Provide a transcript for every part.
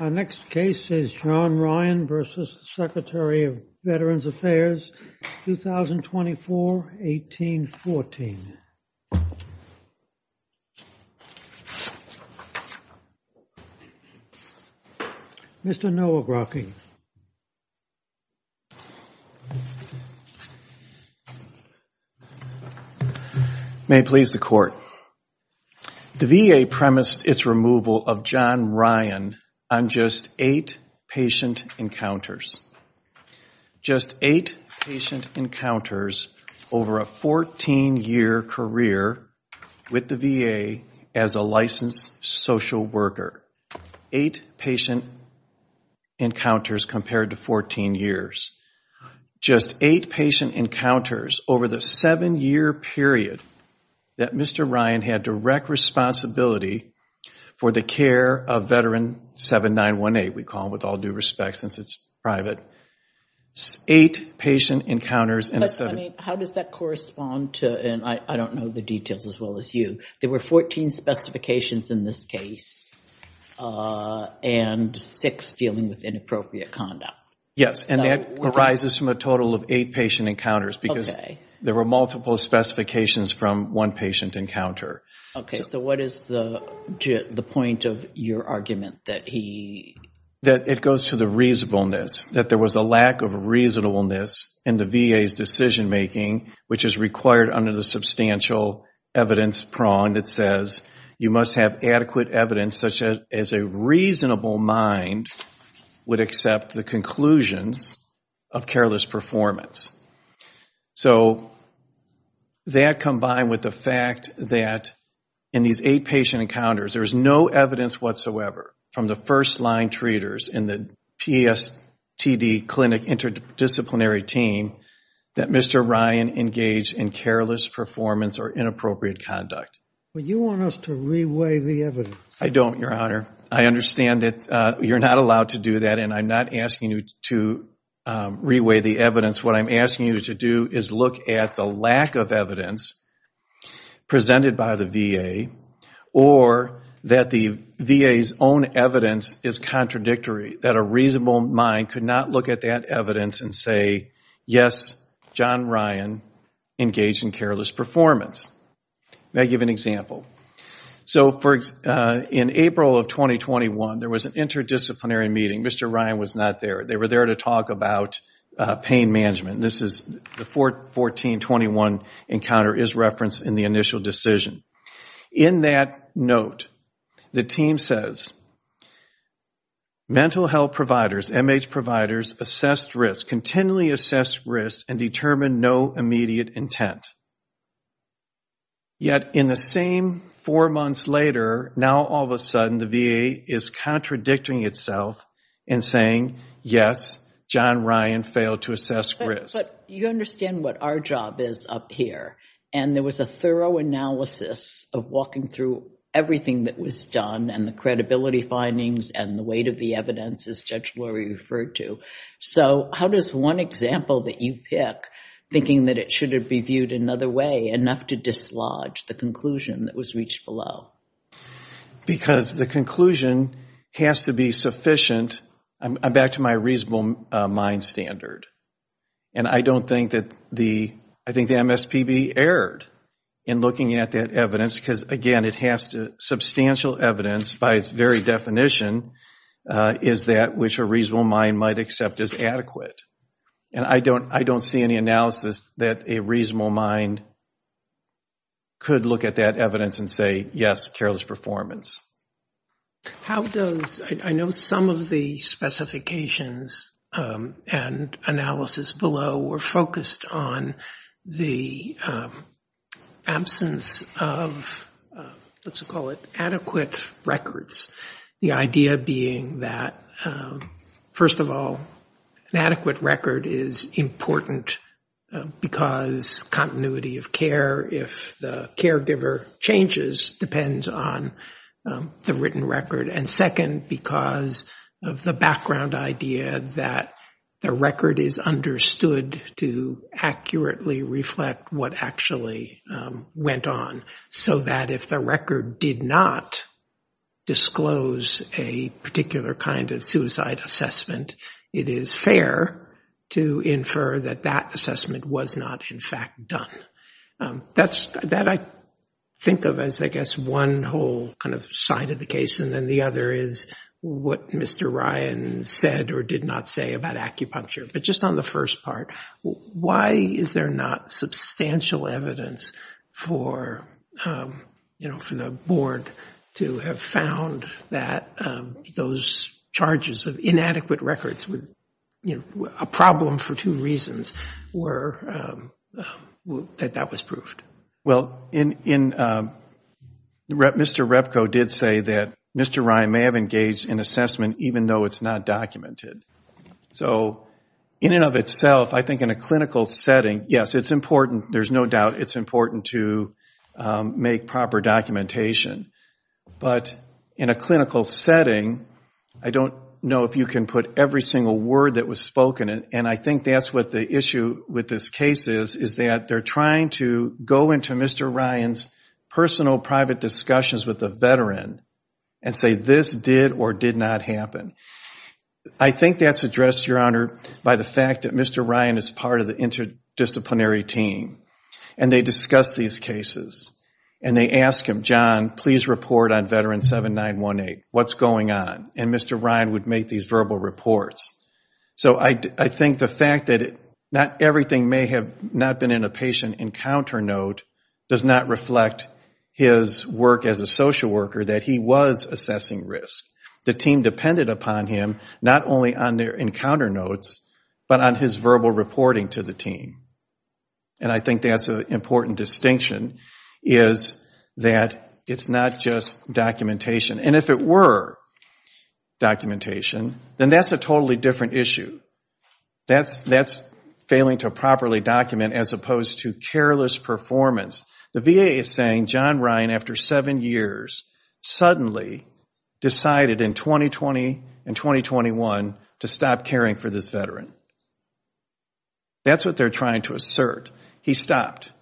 Our next case is John Ryan v. Secretary of Veterans Affairs, 2024-1814. Mr. Nowakrocki. May it please the Court. The VA premised its removal of John Ryan on just eight patient encounters. Just eight patient encounters over a 14-year career with the VA as a licensed social worker. Eight patient encounters compared to 14 years. Just eight patient encounters over the seven-year period that Mr. Ryan had direct responsibility for the care of Veteran 7918, we call him with all due respect since it's private. Eight patient encounters in a seven-year period. How does that correspond to, and I don't know the details as well as you, there were 14 specifications in this case and six dealing with inappropriate conduct. Yes, and that arises from a total of eight patient encounters because there were multiple specifications from one patient encounter. Okay, so what is the point of your argument that he? That it goes to the reasonableness, that there was a lack of reasonableness in the VA's decision-making which is required under the substantial evidence prong that says you must have adequate evidence such as a reasonable mind would accept the conclusions of careless performance. So that combined with the fact that in these eight patient encounters, there is no evidence whatsoever from the first-line treaters in the PSTD clinic interdisciplinary team that Mr. Ryan engaged in careless performance or inappropriate conduct. But you want us to re-weigh the evidence. I don't, Your Honor. I understand that you're not allowed to do that, and I'm not asking you to re-weigh the evidence. What I'm asking you to do is look at the lack of evidence presented by the VA or that the VA's own evidence is contradictory, that a reasonable mind could not look at that evidence and say, yes, John Ryan engaged in careless performance. May I give an example? So in April of 2021, there was an interdisciplinary meeting. Mr. Ryan was not there. They were there to talk about pain management. The 14-21 encounter is referenced in the initial decision. In that note, the team says, mental health providers, MH providers assessed risk, continually assessed risk and determined no immediate intent. Yet in the same four months later, now all of a sudden the VA is contradicting itself and saying, yes, John Ryan failed to assess risk. But you understand what our job is up here, and there was a thorough analysis of walking through everything that was done and the credibility findings and the weight of the evidence as Judge Lori referred to. So how does one example that you pick, thinking that it should have been viewed another way, enough to dislodge the conclusion that was reached below? Because the conclusion has to be sufficient. I'm back to my reasonable mind standard. And I don't think that the MSPB erred in looking at that evidence because, again, it has substantial evidence by its very definition, is that which a reasonable mind might accept as adequate. And I don't see any analysis that a reasonable mind could look at that evidence and say, yes, careless performance. I know some of the specifications and analysis below were focused on the absence of, let's call it adequate records. The idea being that, first of all, an adequate record is important because continuity of care, if the caregiver changes, depends on the written record. And second, because of the background idea that the record is understood to accurately reflect what actually went on, so that if the record did not disclose a particular kind of suicide assessment, it is fair to infer that that assessment was not, in fact, done. That I think of as, I guess, one whole kind of side of the case, and then the other is what Mr. Ryan said or did not say about acupuncture. But just on the first part, why is there not substantial evidence for the board to have found that those charges of inadequate records, a problem for two reasons, that that was proved? Well, Mr. Repco did say that Mr. Ryan may have engaged in assessment, even though it's not documented. So in and of itself, I think in a clinical setting, yes, it's important. There's no doubt it's important to make proper documentation. But in a clinical setting, I don't know if you can put every single word that was spoken, and I think that's what the issue with this case is, is that they're trying to go into Mr. Ryan's personal private discussions with the veteran and say this did or did not happen. I think that's addressed, Your Honor, by the fact that Mr. Ryan is part of the interdisciplinary team, and they discuss these cases, and they ask him, John, please report on Veteran 7918, what's going on? And Mr. Ryan would make these verbal reports. So I think the fact that not everything may have not been in a patient encounter note does not reflect his work as a social worker, that he was assessing risk. The team depended upon him, not only on their encounter notes, but on his verbal reporting to the team. And I think that's an important distinction, is that it's not just documentation. And if it were documentation, then that's a totally different issue. That's failing to properly document as opposed to careless performance. The VA is saying John Ryan, after seven years, suddenly decided in 2020 and 2021 to stop caring for this veteran. That's what they're trying to assert. He stopped.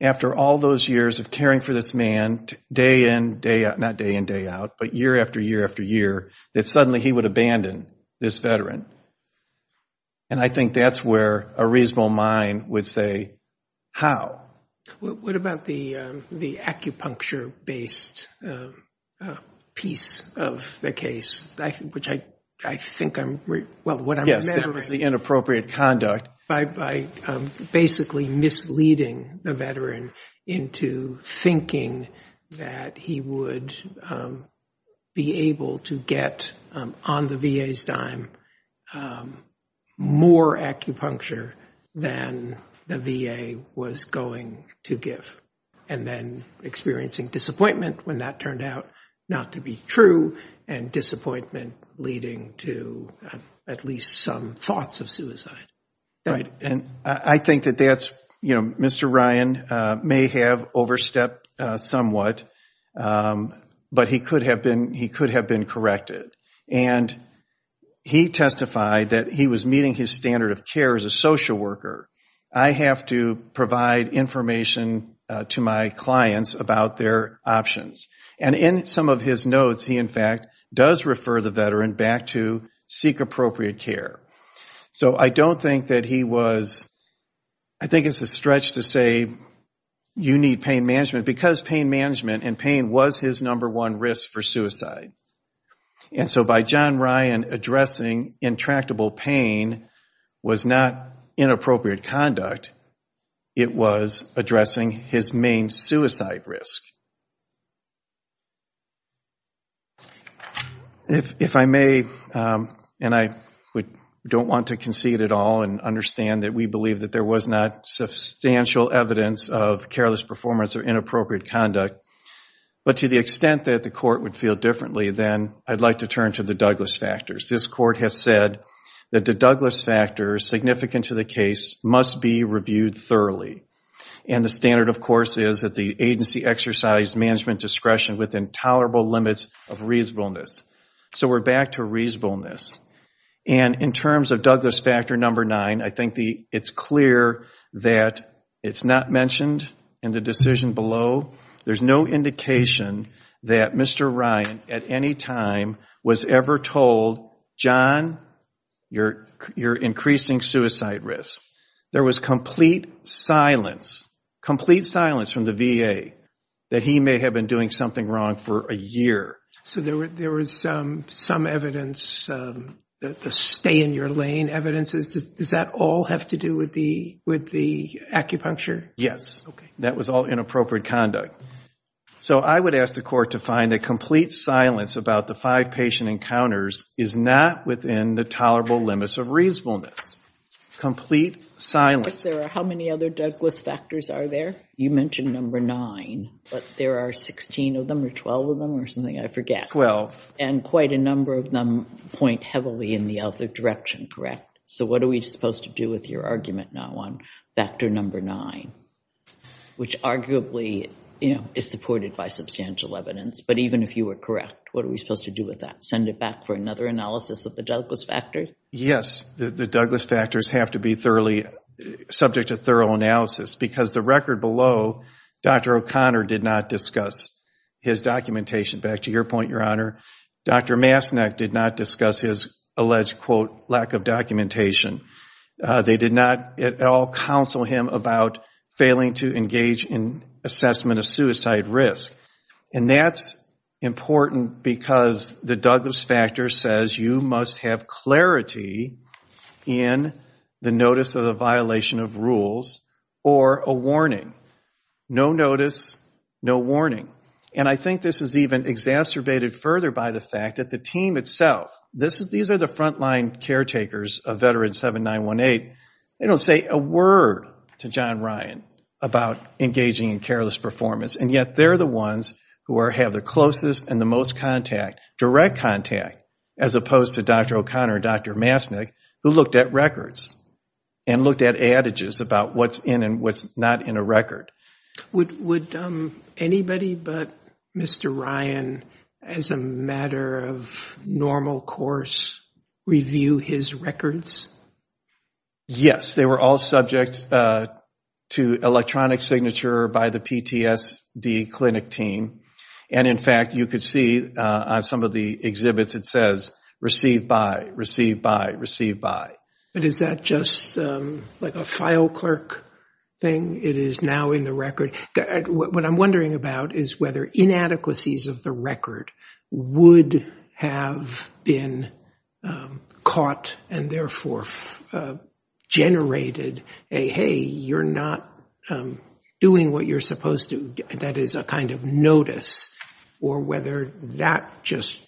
After all those years of caring for this man, day in, day out, not day in, day out, but year after year after year, that suddenly he would abandon this veteran. And I think that's where a reasonable mind would say, how? What about the acupuncture-based piece of the case, which I think I'm, well, what I'm remembering. Yes, that was the inappropriate conduct. By basically misleading the veteran into thinking that he would be able to get, on the VA's dime, more acupuncture than the VA was going to give. And then experiencing disappointment when that turned out not to be true, and disappointment leading to at least some thoughts of suicide. Right, and I think that that's, you know, Mr. Ryan may have overstepped somewhat, but he could have been corrected. And he testified that he was meeting his standard of care as a social worker. I have to provide information to my clients about their options. And in some of his notes, he, in fact, does refer the veteran back to seek appropriate care. So I don't think that he was, I think it's a stretch to say, you need pain management, because pain management and pain was his number one risk for suicide. And so by John Ryan addressing intractable pain was not inappropriate conduct. It was addressing his main suicide risk. If I may, and I don't want to concede at all, and understand that we believe that there was not substantial evidence of careless performance or inappropriate conduct, but to the extent that the court would feel differently, then I'd like to turn to the Douglas factors. This court has said that the Douglas factors significant to the case must be reviewed thoroughly. And the standard, of course, is that the agency exercise management discretion within tolerable limits of reasonableness. So we're back to reasonableness. And in terms of Douglas factor number nine, I think it's clear that it's not mentioned in the decision below. There's no indication that Mr. Ryan, at any time, was ever told, John, you're increasing suicide risk. There was complete silence, complete silence from the VA, that he may have been doing something wrong for a year. So there was some evidence, the stay in your lane evidence, does that all have to do with the acupuncture? Yes. Okay. That was all inappropriate conduct. So I would ask the court to find a complete silence about the five patient encounters is not within the tolerable limits of reasonableness. Complete silence. How many other Douglas factors are there? You mentioned number nine, but there are 16 of them or 12 of them or something, I forget. And quite a number of them point heavily in the other direction, correct? So what are we supposed to do with your argument now on factor number nine, which arguably is supported by substantial evidence, but even if you were correct, what are we supposed to do with that? Send it back for another analysis of the Douglas factor? Yes. The Douglas factors have to be subject to thorough analysis, because the record below, Dr. O'Connor did not discuss his documentation. Back to your point, Your Honor, Dr. Masnach did not discuss his alleged, quote, lack of documentation. They did not at all counsel him about failing to engage in assessment of suicide risk. And that's important because the Douglas factor says you must have clarity in the notice of the violation of rules or a warning. No notice, no warning. And I think this is even exacerbated further by the fact that the team itself, these are the frontline caretakers of Veterans 7, 9, 1, 8. They don't say a word to John Ryan about engaging in careless performance, and yet they're the ones who have the closest and the most contact, direct contact, as opposed to Dr. O'Connor and Dr. Masnach, who looked at records and looked at adages about what's in and what's not in a record. Would anybody but Mr. Ryan, as a matter of normal course, review his records? Yes. They were all subject to electronic signature by the PTSD clinic team. And, in fact, you could see on some of the exhibits it says, receive by, receive by, receive by. But is that just like a file clerk thing? It is now in the record. What I'm wondering about is whether inadequacies of the record would have been caught and therefore generated a, hey, you're not doing what you're supposed to. That is a kind of notice. Or whether that just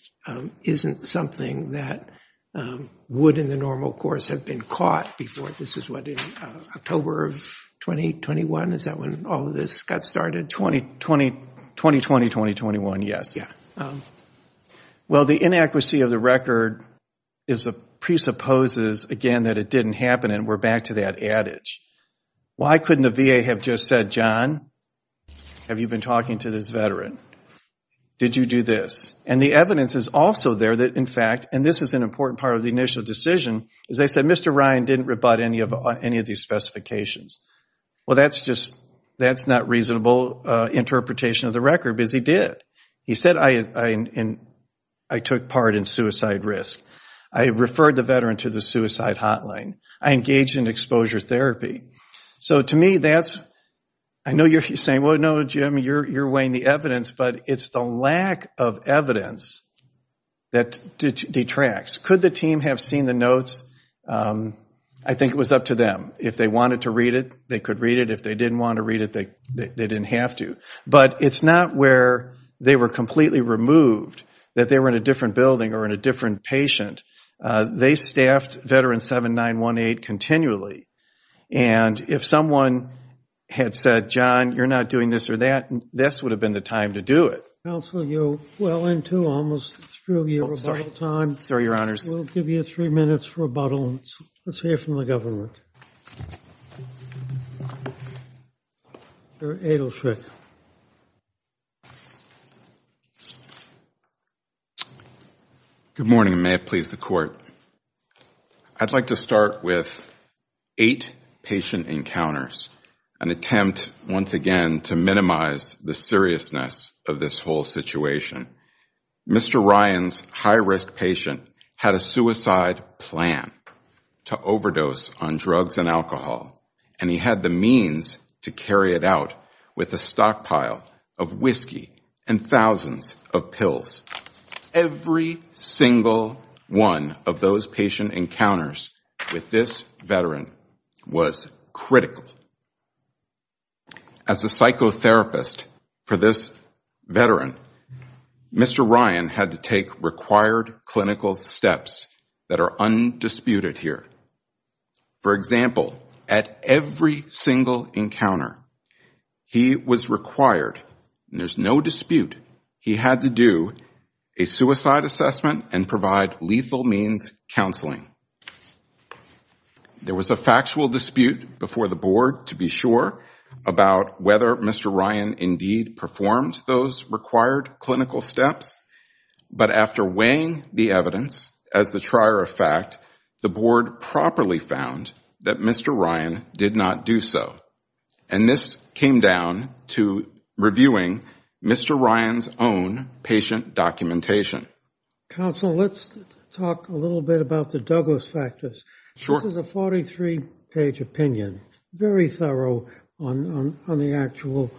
isn't something that would, in the normal course, have been caught before. This is what, October of 2021? Is that when all of this got started? 2020-2021, yes. Well, the inadequacy of the record presupposes, again, that it didn't happen, and we're back to that adage. Why couldn't the VA have just said, John, have you been talking to this veteran? Did you do this? And the evidence is also there that, in fact, and this is an important part of the initial decision, as I said, Mr. Ryan didn't rebut any of these specifications. Well, that's just, that's not reasonable interpretation of the record, because he did. He said, I took part in suicide risk. I referred the veteran to the suicide hotline. I engaged in exposure therapy. So, to me, that's, I know you're saying, well, no, Jim, you're weighing the evidence, but it's the lack of evidence that detracts. Could the team have seen the notes? I think it was up to them. If they wanted to read it, they could read it. If they didn't want to read it, they didn't have to. But it's not where they were completely removed, that they were in a different building or in a different patient. They staffed veteran 7918 continually. And if someone had said, John, you're not doing this or that, this would have been the time to do it. Counsel, you're well into almost through your rebuttal time. Sorry, Your Honors. We'll give you three minutes for rebuttal. Let's hear from the government. Mr. Adelschreck. Good morning, and may it please the Court. I'd like to start with eight patient encounters, an attempt, once again, to minimize the seriousness of this whole situation. Mr. Ryan's high-risk patient had a suicide plan to overdose on drugs and alcohol, and he had the means to carry it out with a stockpile of whiskey and thousands of pills. Every single one of those patient encounters with this veteran was critical. As a psychotherapist for this veteran, Mr. Ryan had to take required clinical steps that are undisputed here. For example, at every single encounter, he was required, and there's no dispute, he had to do a suicide assessment and provide lethal means counseling. There was a factual dispute before the Board, to be sure, about whether Mr. Ryan indeed performed those required clinical steps. But after weighing the evidence, as the trier of fact, the Board properly found that Mr. Ryan did not do so. And this came down to reviewing Mr. Ryan's own patient documentation. Counsel, let's talk a little bit about the Douglas factors. Sure. This is a 43-page opinion, very thorough on the actual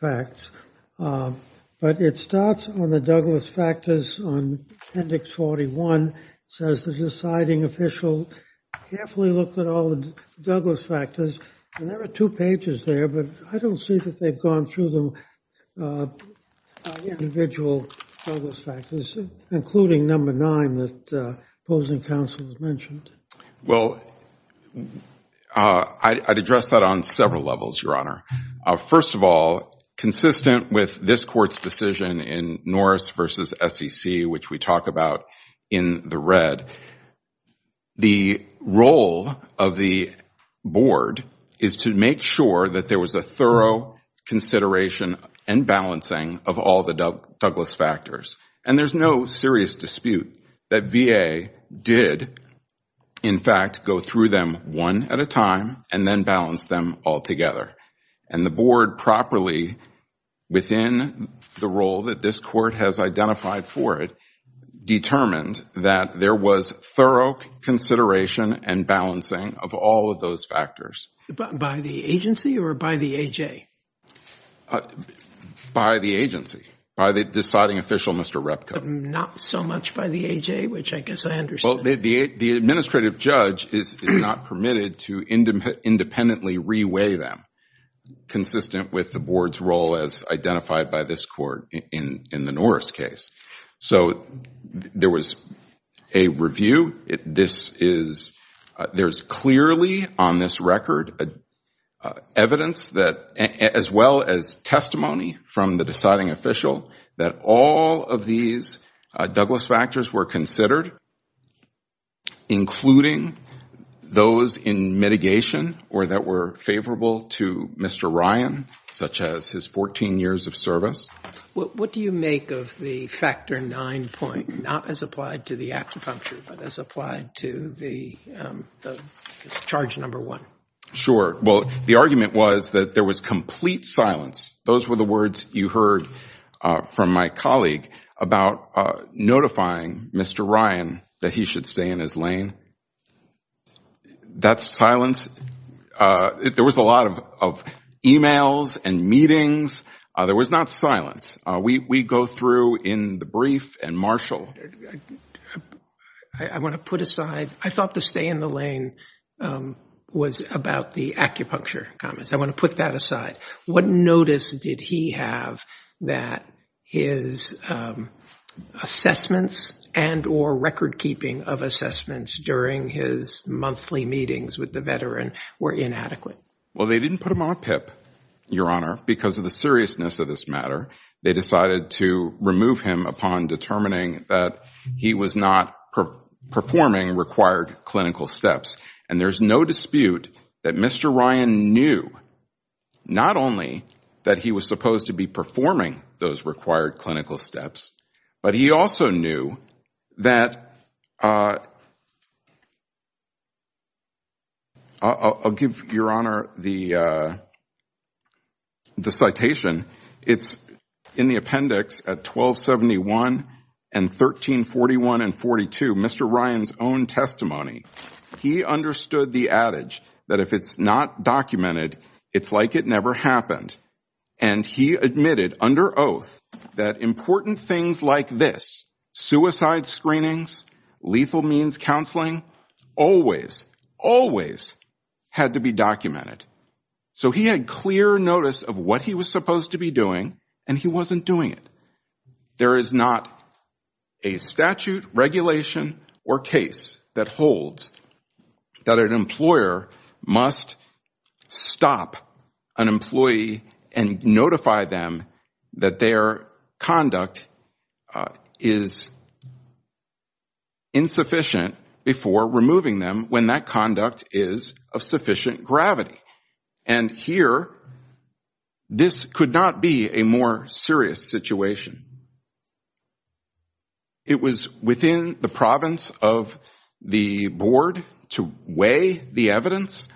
facts. But it starts on the Douglas factors on appendix 41. It says the deciding official carefully looked at all the Douglas factors. And there are two pages there, but I don't see that they've gone through the individual Douglas factors, including number nine that opposing counsel has mentioned. Well, I'd address that on several levels, Your Honor. First of all, consistent with this Court's decision in Norris v. SEC, which we talk about in the red, the role of the Board is to make sure that there was a thorough consideration and balancing of all the Douglas factors. And there's no serious dispute that VA did, in fact, go through them one at a time and then balance them all together. And the Board properly, within the role that this Court has identified for it, determined that there was thorough consideration and balancing of all of those factors. By the agency or by the A.J.? By the agency, by the deciding official, Mr. Repco. But not so much by the A.J., which I guess I understand. Well, the administrative judge is not permitted to independently re-weigh them, consistent with the Board's role as identified by this Court in the Norris case. So there was a review. There's clearly on this record evidence as well as testimony from the deciding official that all of these Douglas factors were considered, including those in mitigation or that were favorable to Mr. Ryan, such as his 14 years of service. What do you make of the Factor 9 point, not as applied to the acupuncture, but as applied to the Charge No. 1? Sure. Well, the argument was that there was complete silence. Those were the words you heard from my colleague about notifying Mr. Ryan that he should stay in his lane. That silence, there was a lot of e-mails and meetings. There was not silence. We go through in the brief and marshal. I want to put aside, I thought the stay in the lane was about the acupuncture comments. I want to put that aside. What notice did he have that his assessments and or record keeping of assessments during his monthly meetings with the veteran were inadequate? Well, they didn't put him on a PIP, Your Honor, because of the seriousness of this matter. They decided to remove him upon determining that he was not performing required clinical steps. And there's no dispute that Mr. Ryan knew not only that he was supposed to be performing those required clinical steps, but he also knew that, I'll give Your Honor the citation. It's in the appendix at 1271 and 1341 and 42, Mr. Ryan's own testimony. He understood the adage that if it's not documented, it's like it never happened. And he admitted under oath that important things like this, suicide screenings, lethal means counseling, always, always had to be documented. So he had clear notice of what he was supposed to be doing, and he wasn't doing it. There is not a statute, regulation, or case that holds that an employer must stop an employee and notify them that their conduct is insufficient before removing them when that conduct is of sufficient gravity. And here, this could not be a more serious situation. It was within the province of the board to weigh the evidence,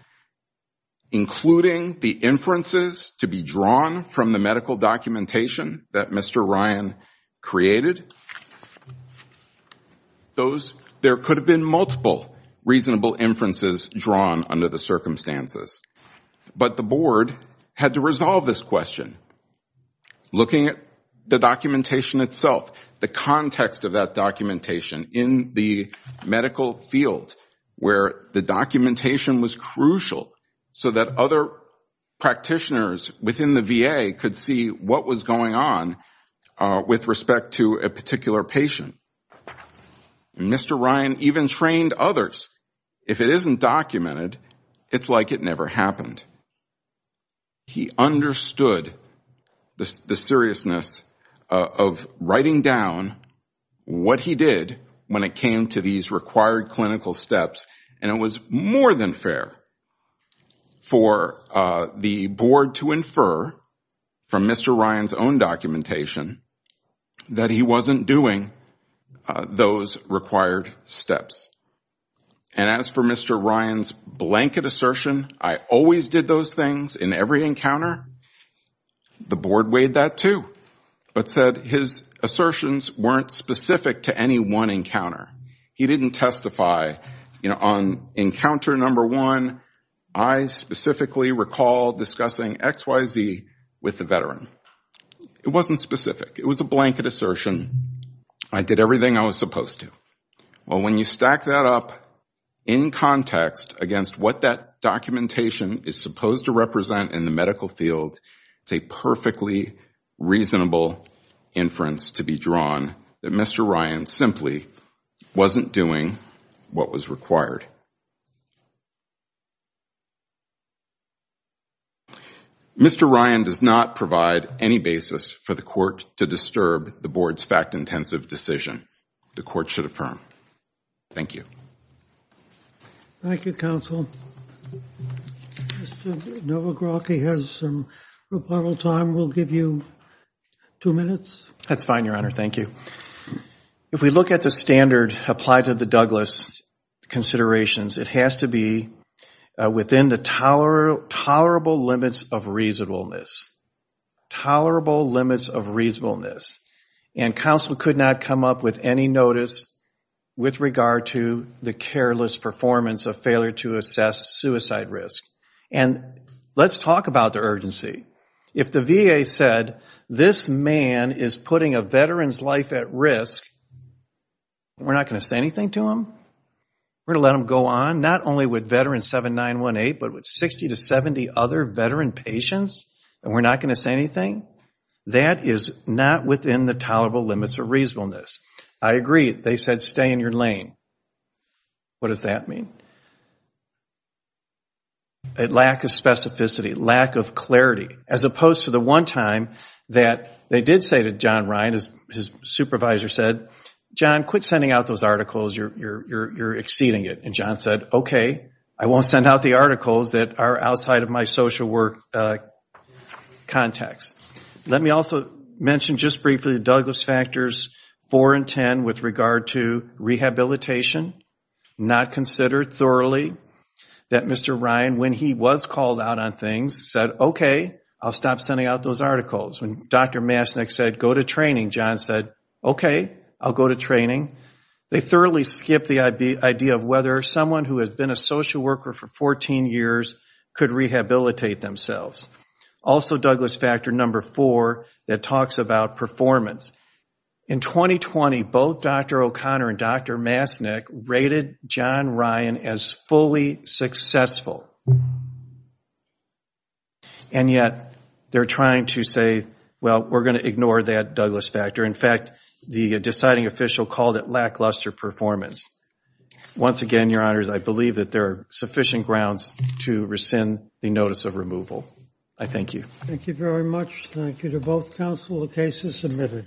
including the inferences to be drawn from the medical documentation that Mr. Ryan created. There could have been multiple reasonable inferences drawn under the circumstances. But the board had to resolve this question. Looking at the documentation itself, the context of that documentation in the medical field, where the documentation was crucial so that other practitioners within the VA could see what was going on with respect to a particular patient. And Mr. Ryan even trained others, if it isn't documented, it's like it never happened. He understood the seriousness of writing down what he did when it came to these required clinical steps. And it was more than fair for the board to infer from Mr. Ryan's own documentation that he wasn't doing those required steps. And as for Mr. Ryan's blanket assertion, I always did those things in every encounter, the board weighed that too, but said his assertions weren't specific to any one encounter. He didn't testify on encounter number one, I specifically recall discussing XYZ with the veteran. It wasn't specific. It was a blanket assertion. I did everything I was supposed to. Well, when you stack that up in context against what that documentation is supposed to represent in the medical field, it's a perfectly reasonable inference to be drawn that Mr. Ryan simply wasn't doing what was required. Mr. Ryan does not provide any basis for the court to disturb the board's fact-intensive decision. The court should affirm. Thank you. Thank you, counsel. Mr. Nowakowski has some rebuttal time. We'll give you two minutes. That's fine, Your Honor. Thank you. If we look at the standard applied to the Douglas considerations, it has to be within the tolerable limits of reasonableness. Tolerable limits of reasonableness. And counsel could not come up with any notice with regard to the careless performance of failure to assess suicide risk. And let's talk about the urgency. If the VA said, this man is putting a veteran's life at risk, we're not going to say anything to him? We're going to let him go on? Not only with Veteran 7918, but with 60 to 70 other veteran patients, and we're not going to say anything? That is not within the tolerable limits of reasonableness. I agree. They said stay in your lane. What does that mean? A lack of specificity, lack of clarity, as opposed to the one time that they did say to John Ryan, his supervisor said, John, quit sending out those articles. You're exceeding it. And John said, okay, I won't send out the articles that are outside of my social work context. Let me also mention just briefly the Douglas factors 4 and 10 with regard to rehabilitation, not considered thoroughly, that Mr. Ryan, when he was called out on things, said, okay, I'll stop sending out those articles. When Dr. Masnick said, go to training, John said, okay, I'll go to training. They thoroughly skipped the idea of whether someone who has been a social worker for 14 years could rehabilitate themselves. Also Douglas factor number 4 that talks about performance. In 2020, both Dr. O'Connor and Dr. Masnick rated John Ryan as fully successful. And yet they're trying to say, well, we're going to ignore that Douglas factor. In fact, the deciding official called it lackluster performance. Once again, your honors, I believe that there are sufficient grounds to rescind the notice of removal. I thank you. Thank you very much. Thank you to both counsel. The case is submitted.